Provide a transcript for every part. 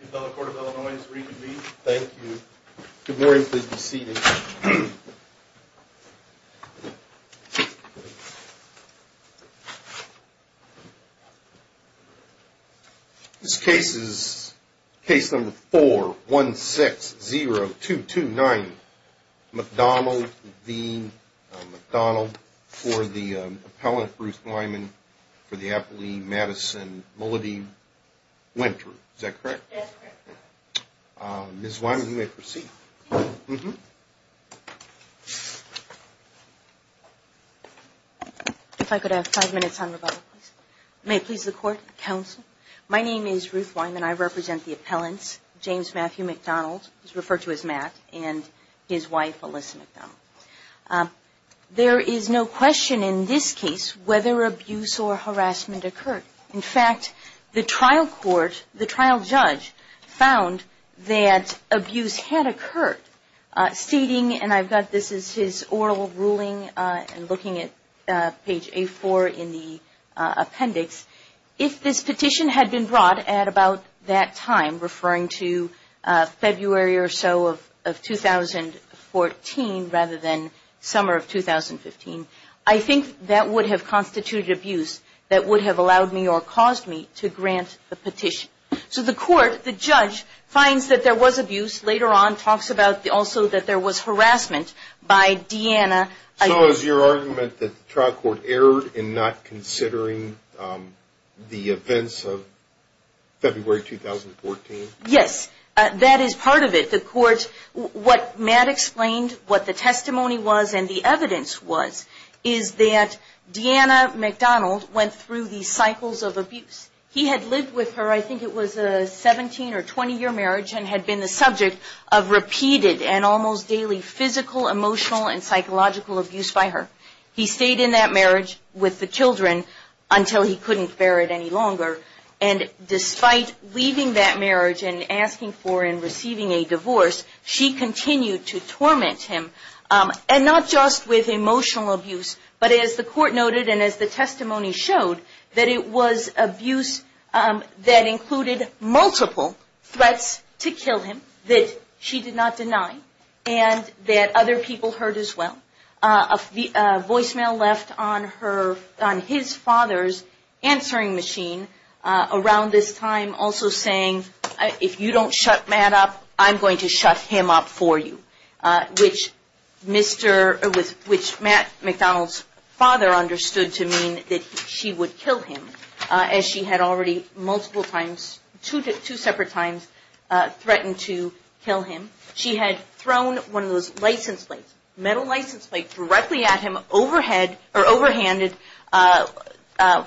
The Appellate Court of Illinois is reconvened. Thank you. Good morning. Please be seated. This case is case number 4-160-229 MacDonald v. MacDonald for the appellant, Bruce Lyman, for the Appellee, Madison Mulledy-Winter. Is that correct? Yes, correct. Ms. Lyman, you may proceed. If I could have five minutes on rebuttal, please. May it please the Court, counsel. My name is Ruth Lyman. I represent the appellants, James Matthew MacDonald, who is referred to as Matt, and his wife, Alyssa MacDonald. There is no question in this case whether abuse or harassment occurred. In fact, the trial court, the trial judge, found that abuse had occurred, stating, and I've got this as his oral ruling, looking at page A4 in the appendix, if this petition had been brought at about that time, referring to February or so of 2014 rather than summer of 2015, I think that would have constituted abuse that would have allowed me or caused me to grant the petition. So the court, the judge, finds that there was abuse. Later on talks about also that there was harassment by Deanna. So is your argument that the trial court erred in not considering the events of February 2014? Yes, that is part of it. The court, what Matt explained, what the testimony was and the evidence was, is that Deanna MacDonald went through these cycles of abuse. He had lived with her, I think it was a 17 or 20 year marriage, and had been the subject of repeated and almost daily physical, emotional and psychological abuse by her. He stayed in that marriage with the children until he couldn't bear it any longer. And despite leaving that marriage and asking for and receiving a divorce, she continued to torment him. And not just with emotional abuse, but as the court noted and as the testimony showed, that it was abuse that included multiple threats to kill him that she did not deny and that other people heard as well. A voicemail left on his father's answering machine around this time also saying, if you don't shut Matt up, I'm going to shut him up for you. Which Matt MacDonald's father understood to mean that she would kill him, as she had already multiple times, two separate times threatened to kill him. She had thrown one of those license plates, metal license plates, directly at him, overhanded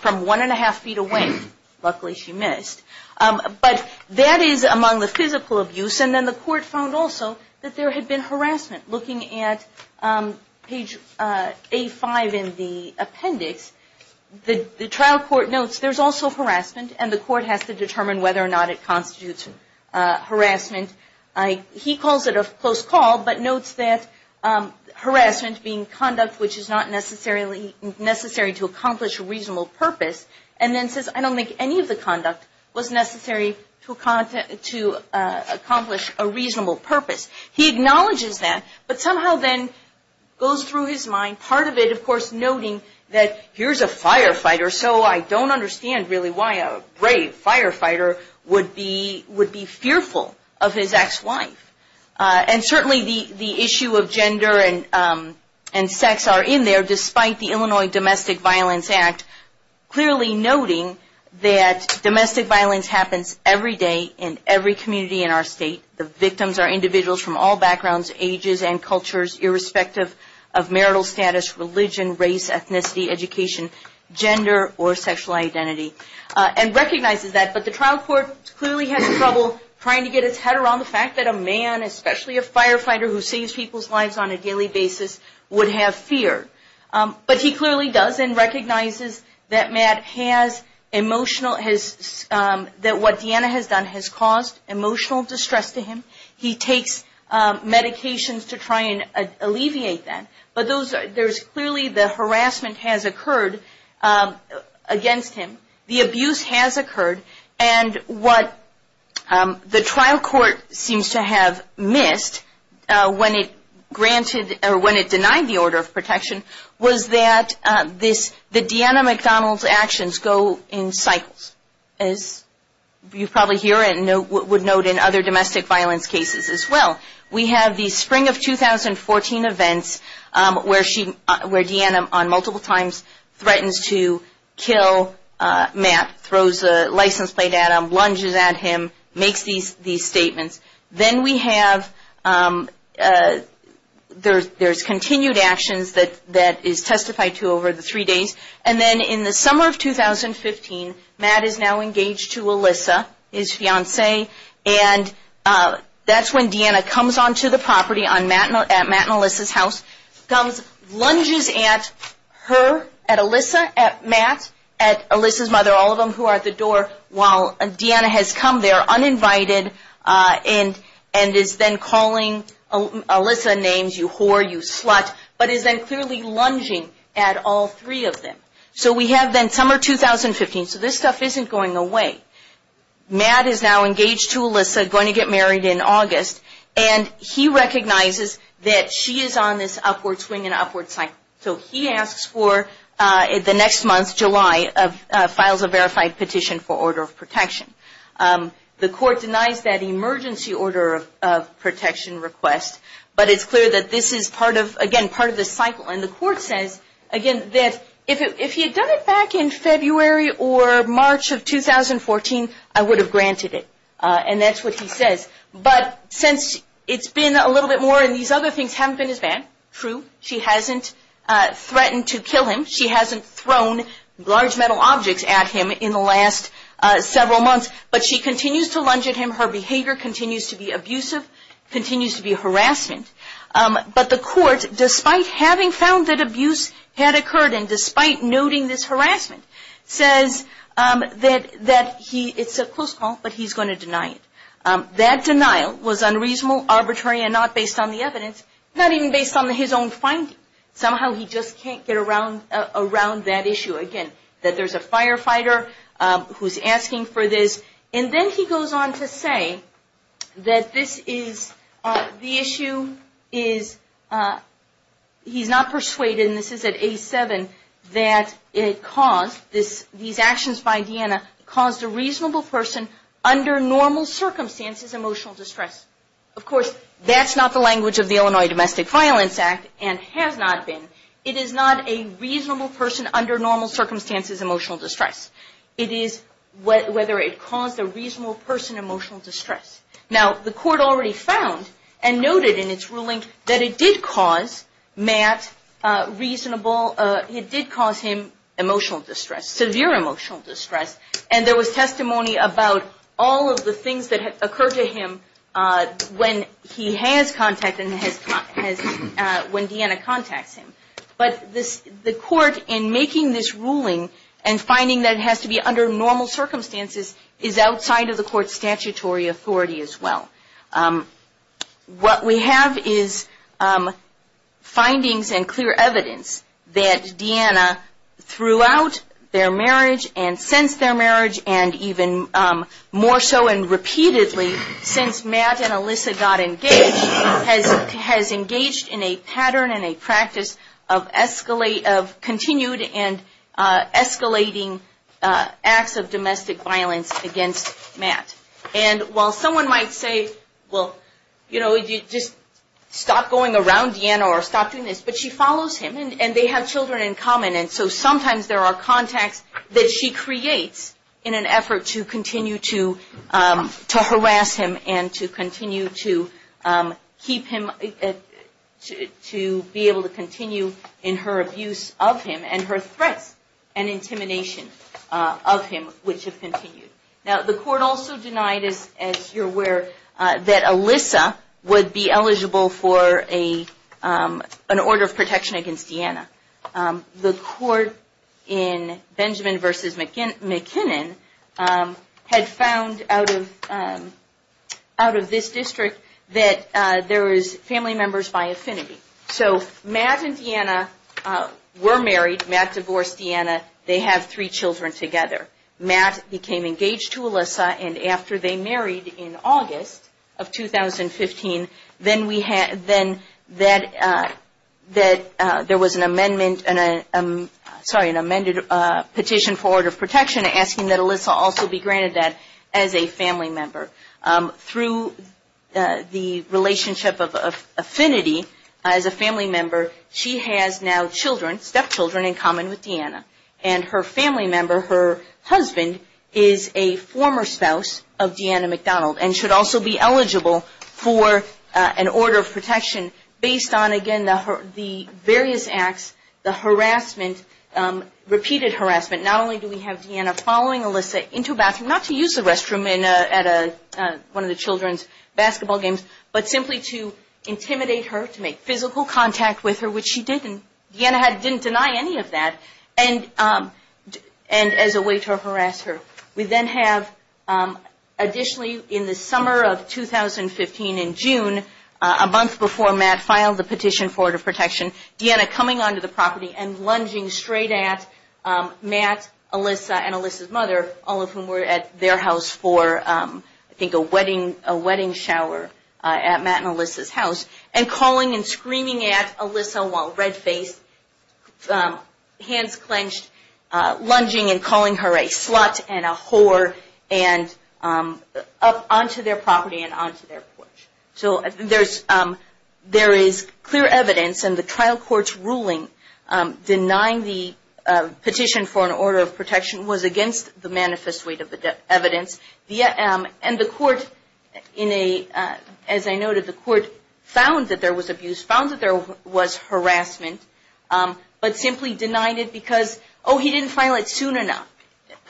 from one and a half feet away. Luckily she missed. But that is among the physical abuse. And then the court found also that there had been harassment. Looking at page A5 in the appendix, the trial court notes there's also harassment and the court has to determine whether or not it constitutes harassment. He calls it a close call, but notes that harassment being conduct which is not necessary to accomplish a reasonable purpose. And then says, I don't think any of the conduct was necessary to accomplish a reasonable purpose. And then goes through his mind, part of it, of course, noting that here's a firefighter, so I don't understand really why a brave firefighter would be fearful of his ex-wife. And certainly the issue of gender and sex are in there, despite the Illinois Domestic Violence Act, clearly noting that domestic violence happens every day in every community in our state. The victims are individuals from all backgrounds, ages, and cultures, irrespective of marital status, religion, race, ethnicity, education, gender, or sexual identity. And recognizes that. But the trial court clearly has trouble trying to get its head around the fact that a man, especially a firefighter who saves people's lives on a daily basis, would have fear. But he clearly does and recognizes that Matt has emotional, that what Deanna has done has caused emotional distress to him. He takes medications to try and alleviate that. But there's clearly the harassment has occurred against him. The abuse has occurred. And what the trial court seems to have missed when it denied the order of in cycles. As you probably hear and would note in other domestic violence cases as well. We have the spring of 2014 events where Deanna on multiple times threatens to kill Matt, throws a license plate at him, lunges at him, makes these statements. Then we have, there's continued actions that is testified to over the three days. And then in the summer of 2015, Matt is now engaged to Alyssa, his fiance. And that's when Deanna comes onto the property at Matt and Alyssa's house. Lunges at her, at Alyssa, at Matt, at Alyssa's mother, all of them who are at the door. While Deanna has come there uninvited and is then calling Alyssa names, you whore, you slut. But is then clearly lunging at all three of them. So we have then summer 2015. So this stuff isn't going away. Matt is now engaged to Alyssa, going to get married in August. And he recognizes that she is on this upward swing and upward cycle. So he asks for the next month, July, files a verified petition for order of protection. The court denies that emergency order of protection request. But it's clear that this is part of, again, part of the cycle. And the court says again, that if he had done it back in February or March of 2014, I would have granted it. And that's what he says. But since it's been a little bit more and these other things haven't been his ban, true, she hasn't threatened to kill him. She hasn't thrown large metal objects at him in the last several months. But she continues to lunge at him. Her behavior continues to be abusive, continues to be harassment. But the court, despite having found that abuse had occurred and despite noting this harassment, says that he, it's a close call, but he's going to deny it. That denial was unreasonable, arbitrary, and not based on the evidence. Not even based on his own finding. Somehow he just can't get around that issue. Again, that there's a firefighter who's asking for this. And then he goes on to say that this is, the issue is, he's not persuaded, and this is at A7, that it caused, these actions by Deanna caused a And of course, that's not the language of the Illinois Domestic Violence Act, and has not been. It is not a reasonable person under normal circumstances' emotional distress. It is whether it caused a reasonable person emotional distress. Now, the court already found and noted in its ruling that it did cause Matt reasonable, it did cause him emotional distress, severe emotional distress. And there was testimony about all of the things that occurred to him when he has contacted, when Deanna contacts him. But the court, in making this ruling, and finding that it has to be under normal circumstances, is outside of the court's statutory authority as well. What we have is findings and clear evidence that Deanna, throughout their marriage, and since their marriage, and even more so, and repeatedly, since Matt and Alyssa got engaged, has engaged in a pattern and a practice of continued and escalating acts of domestic violence against Matt. And while someone might say, well, just stop going around Deanna, or stop doing this, but she follows him. And they have children in common, and so sometimes there are contacts that she creates in an effort to continue to harass him, and to continue to keep him, to be able to continue in her abuse of him, and her threats and intimidation of him, which have led to the fact that Deanna would be eligible for an order of protection against Deanna. The court in Benjamin v. McKinnon had found out of this district that there was family members by affinity. So Matt and Deanna were married. Matt divorced Deanna. They have three children together. Matt became engaged to Alyssa, and after they married in August of 2015, then there was an amended petition for order of protection asking that Alyssa also be granted that as a family member. Through the relationship of affinity as a family member, she has now children, stepchildren in common with Deanna. And her family member, her husband, is a former spouse of Deanna McDonald, and should also be eligible for an order of protection based on, again, the various acts, the harassment, repeated harassment. Not only do we have Deanna following Alyssa into a bathroom, not to use the restroom at one of the children's basketball games, but simply to intimidate her, to make physical contact with her, which she didn't. Deanna didn't deny any of that, and as a way to harass her. We then have, additionally, in the summer of 2015 in June, a month before Matt filed the petition for order of protection, Deanna coming onto the property and lunging straight at Matt, Alyssa, and Alyssa's house, and calling and screaming at Alyssa while red-faced, hands clenched, lunging and calling her a slut and a whore, onto their property and onto their porch. There is clear evidence in the trial court's ruling denying the petition for an order of protection was against the manifest weight of the evidence, and the court, as I noted, the court found that there was abuse, found that there was harassment, but simply denied it because, oh, he didn't file it soon enough.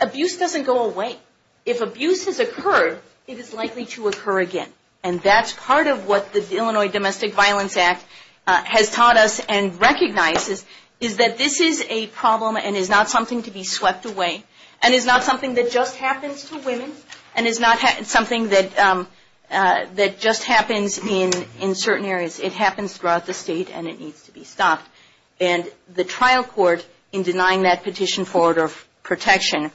Abuse doesn't go away. If abuse has occurred, it is likely to occur again, and that's part of what the Illinois Domestic Violence Act has taught us and recognizes, is that this is a problem and is not something to be swept away, and is not something that just happens to women, and is not something that just happens in certain areas. It happens throughout the state, and it needs to be stopped. And the trial court, in denying that petition for order of protection,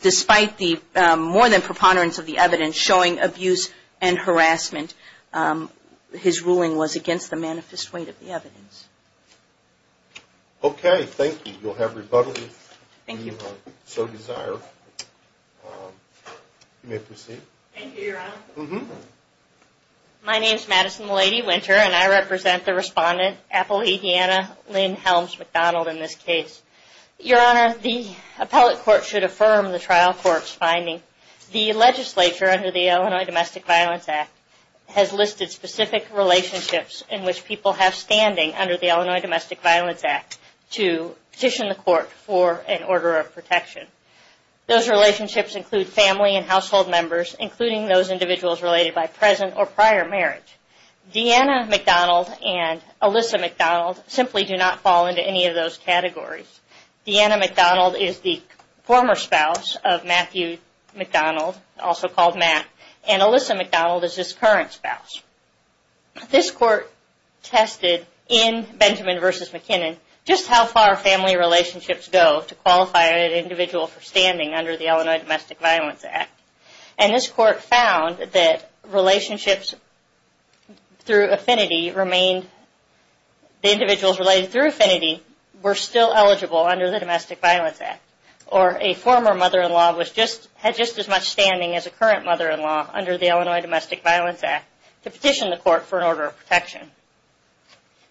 despite the more than preponderance of the evidence showing abuse and harassment, his ruling was against the manifest weight of the evidence. Okay, thank you. You'll have rebuttal if you so desire. You may proceed. My name is Madison Malady Winter, and I represent the respondent, Appalachiana Lynn Helms McDonald, in this case. Your Honor, the Illinois Domestic Violence Act has listed specific relationships in which people have standing under the Illinois Domestic Violence Act to petition the court for an order of protection. Those relationships include family and household members, including those individuals related by present or prior marriage. Deanna McDonald and Alyssa McDonald simply do not fall into any of those categories. Deanna McDonald is the current spouse. This court tested in Benjamin v. McKinnon just how far family relationships go to qualify an individual for standing under the Illinois Domestic Violence Act. And this court found that relationships through affinity remained, the individuals related through affinity were still eligible under the Domestic Violence Act. Or a former mother-in-law had just as much standing as a current mother-in-law under the Illinois Domestic Violence Act to petition the court for an order of protection.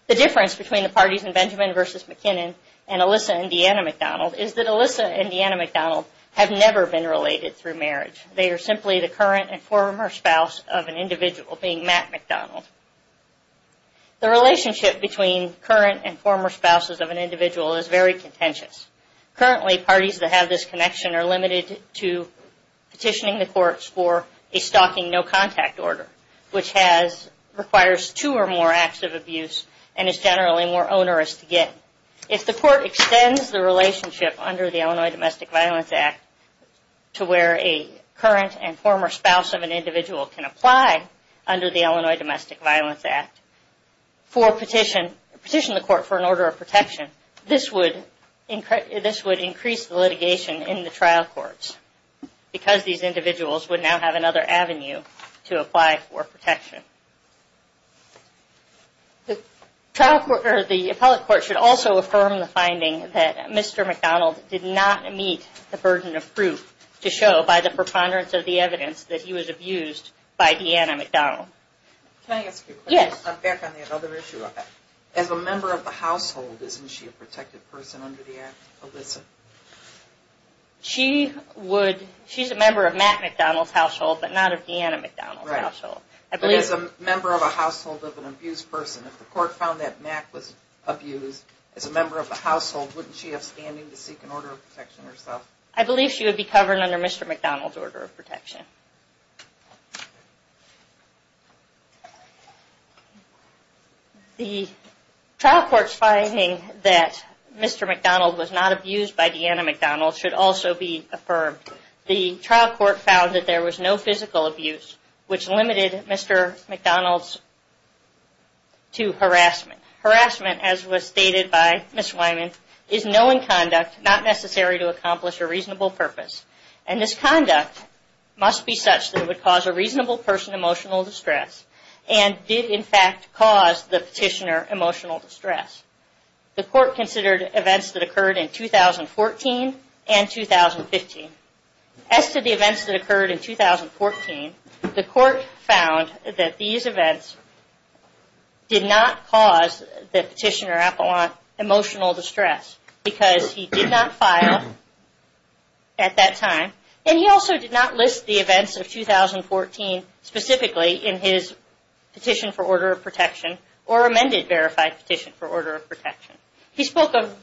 The difference between the parties in Benjamin v. McKinnon and Alyssa and Deanna McDonald is that Alyssa and Deanna McDonald have never been related through marriage. They are simply the current and former spouse of an individual, being Matt McDonald. The relationship between current and former spouses of an individual is very contentious. Currently, parties that have this connection are limited to petitioning the courts for a stalking no-contact order, which requires two or more acts of abuse and is generally more onerous to get. If the court extends the relationship under the Illinois Domestic Violence Act to where a current and former spouse of an individual can apply under the Illinois Domestic Violence Act for a petition, petition the court for an order of protection, this would increase the litigation in the trial courts because these individuals would now have another avenue to apply for protection. The appellate court should also affirm the finding that Mr. McDonald did not meet the burden of proof to show by the preponderance of the evidence that he was abused by Deanna McDonald. As a member of the household, isn't she a protected person under the act? She's a member of Matt McDonald's household, but not of Deanna McDonald's household. As a member of a household of an abused person, if the court found that Matt was abused as a member of the household, wouldn't she have standing to seek an order of protection herself? I believe she would be covered under Mr. McDonald's order of protection. The trial court's finding that Mr. McDonald was not abused by Deanna McDonald should also be attributed to harassment. Harassment, as was stated by Ms. Wyman, is knowing conduct not necessary to accomplish a reasonable purpose. And this conduct must be such that it would cause a reasonable person emotional distress and did in fact cause the petitioner emotional distress. The court considered events that occurred in 2014 and 2015. As to the events that occurred in 2014, the court found that these events did not cause the petitioner emotional distress because he did not file at that time and he also did not list the events of 2014 specifically in his petition for order of protection or amended verified petition for order of protection. He spoke of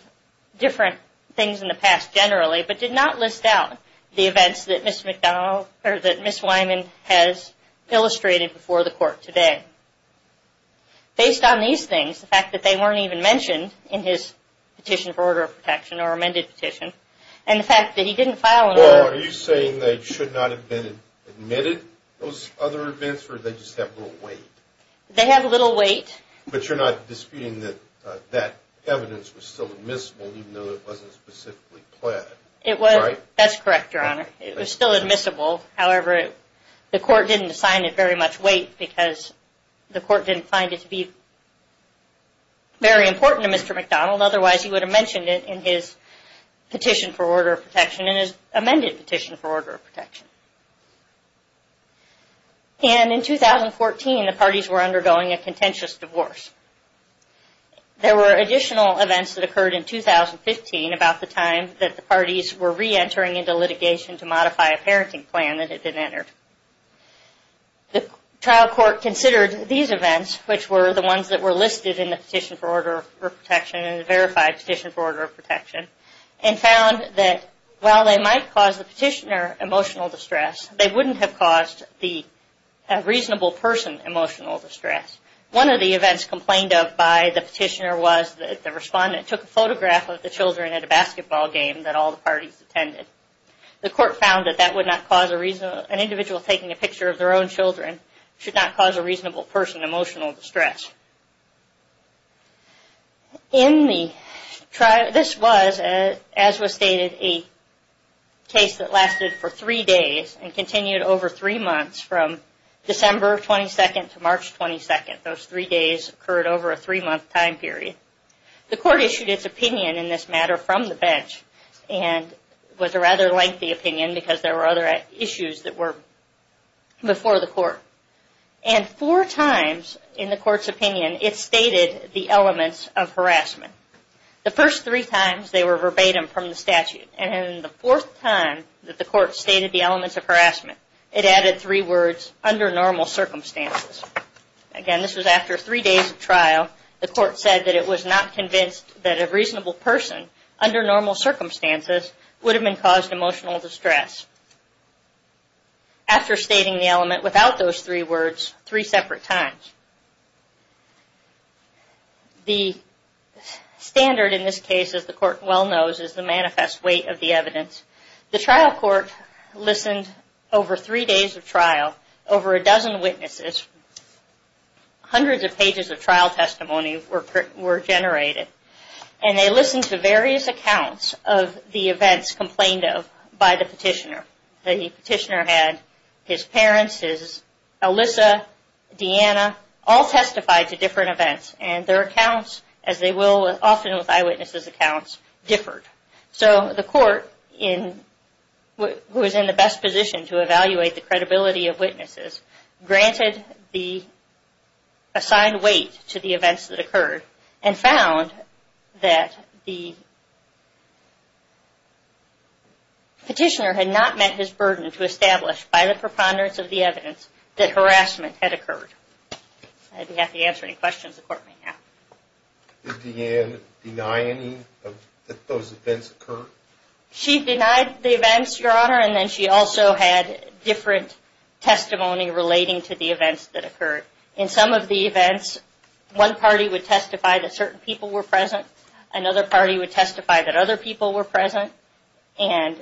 different things in the past generally, but did not list out the events that Ms. Wyman has illustrated before the court today. Based on these things, the fact that they weren't even mentioned in his petition for order of protection or amended petition, and the fact that he didn't file an order... Well, are you saying they should not have been admitted, those other events, or they just have little weight? They have little weight. But you're not disputing that that evidence was still admissible even though it wasn't specifically planned, right? That's correct, Your Honor. It was still admissible, however the court didn't assign it very much weight because the court didn't find it to be very important to Mr. McDonald, otherwise he would have mentioned it in his petition for order of protection and his amended petition for order of protection. And in 2014, the parties were undergoing a contentious divorce. There were additional events that occurred in 2015 about the time that the parties were re-entering into litigation to modify a parenting plan that had been entered. The trial court considered these events, which were the ones that were listed in the petition for order of protection and the verified petition for order of protection, emotional distress. They wouldn't have caused the reasonable person emotional distress. One of the events complained of by the petitioner was that the respondent took a photograph of the children at a basketball game that all the parties attended. The court found that that would not cause an individual taking a picture of their own children should not cause a reasonable person emotional distress. In the trial... Now this was, as was stated, a case that lasted for three days and continued over three months from December 22nd to March 22nd. Those three days occurred over a three month time period. The court issued its opinion in this matter from the bench and was a rather lengthy opinion because there were other issues that were before the court. And four times in the court's opinion it stated the elements of harassment. The first three times they were verbatim from the statute. And in the fourth time that the court stated the elements of harassment, it added three words, under normal circumstances. Again, this was after three days of trial. The court said that it was not convinced that a reasonable person under normal circumstances would have been caused emotional distress. After stating the element without those three words, three separate times. The standard in this case, as the court well knows, is the manifest weight of the evidence. The trial court listened over three days of trial, over a dozen witnesses. Hundreds of pages of trial testimony were generated. And they listened to various accounts of the events complained of by the petitioner. The petitioner had his parents, his Alyssa, Deanna, all testified to different events. And their accounts, as they will often with eyewitnesses accounts, differed. So the court who was in the best position to evaluate the credibility of witnesses, granted the assigned weight to the events that occurred. And found that the petitioner had not met his burden to establish by the preponderance of the evidence that harassment had occurred. I don't have to answer any questions the court may have. Did Deanna deny any of those events occurred? She denied the events, Your Honor. And then she also had different testimony relating to the events that occurred. In some of the events, one party would testify that certain people were present. Another party would testify that other people were present. And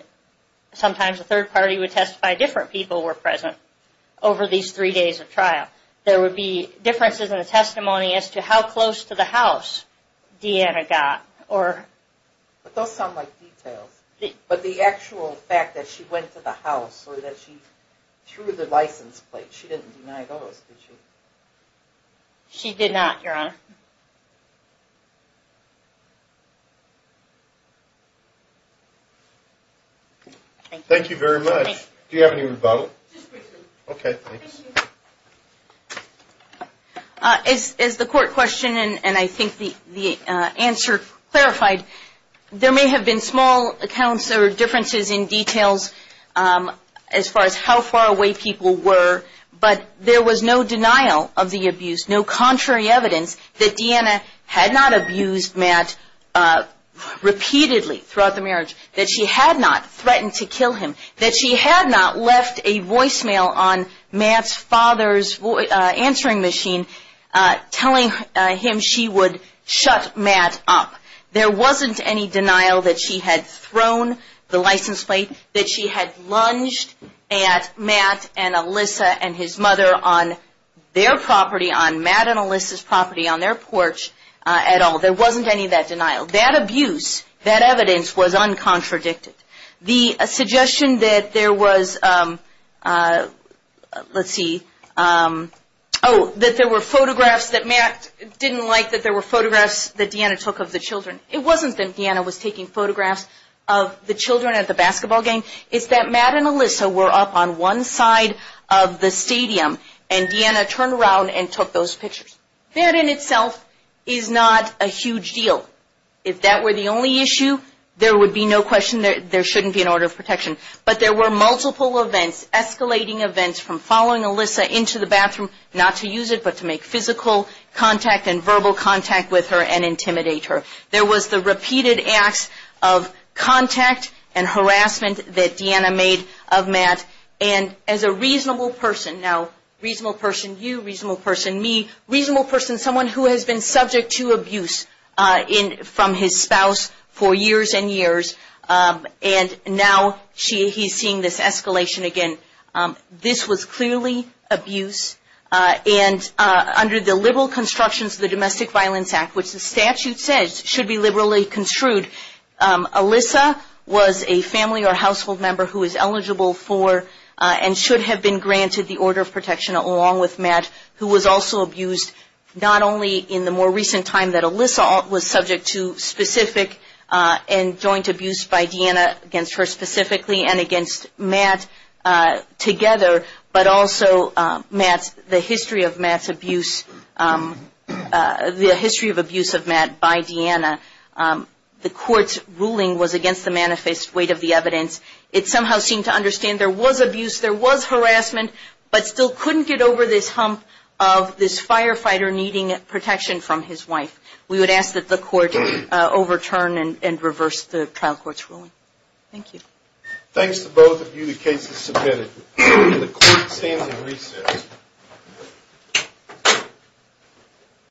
sometimes a third party would testify different people were present over these three days of trial. There would be differences in the testimony as to how close to the house Deanna got. But those sound like details. But the actual fact that she went to the house or that she threw the license plate, she didn't deny those, did she? She did not, Your Honor. Thank you very much. Do you have any rebuttal? Just briefly. Okay, thanks. As the court questioned and I think the answer clarified, there may have been small accounts or differences in details as far as how far away people were, but there was no denial of the abuse, no contrary evidence that Deanna had not abused Matt repeatedly throughout the marriage, that she had not threatened to use her father's answering machine telling him she would shut Matt up. There wasn't any denial that she had thrown the license plate, that she had lunged at Matt and Alyssa and his mother on their property, on Matt and Alyssa's property, on their porch at all. There wasn't any of that denial. That abuse, that evidence was uncontradicted. The suggestion that there was, let's see, oh, that there were photographs that Matt didn't like, that there were photographs that Deanna took of the children. It wasn't that Deanna was taking photographs of the children at the basketball game. It's that Matt and Alyssa were up on one side of the stadium and Deanna turned around and took those pictures. That in itself is not a huge deal. If that were the only issue, there would be no question that there shouldn't be an order of protection. But there were multiple events, escalating events from following Alyssa into the bathroom, not to use it, but to make physical contact and verbal contact with her and intimidate her. There was the repeated acts of contact and harassment that Deanna made of Matt. And as a reasonable person, now she's had physical abuse from his spouse for years and years. And now he's seeing this escalation again. This was clearly abuse. And under the liberal constructions of the Domestic Violence Act, which the statute says should be liberally construed, Alyssa was a family or household member who was eligible for and should have been granted the order of protection. And the fact that Alyssa was subject to specific and joint abuse by Deanna against her specifically and against Matt together, but also Matt's, the history of Matt's abuse, the history of abuse of Matt by Deanna. The court's ruling was against the manifest weight of the evidence. It somehow seemed to understand there was abuse, there was harassment, but still couldn't get over this hump of this firefighter needing protection from his wife. We would ask that the court overturn and reverse the trial court's ruling. Thank you.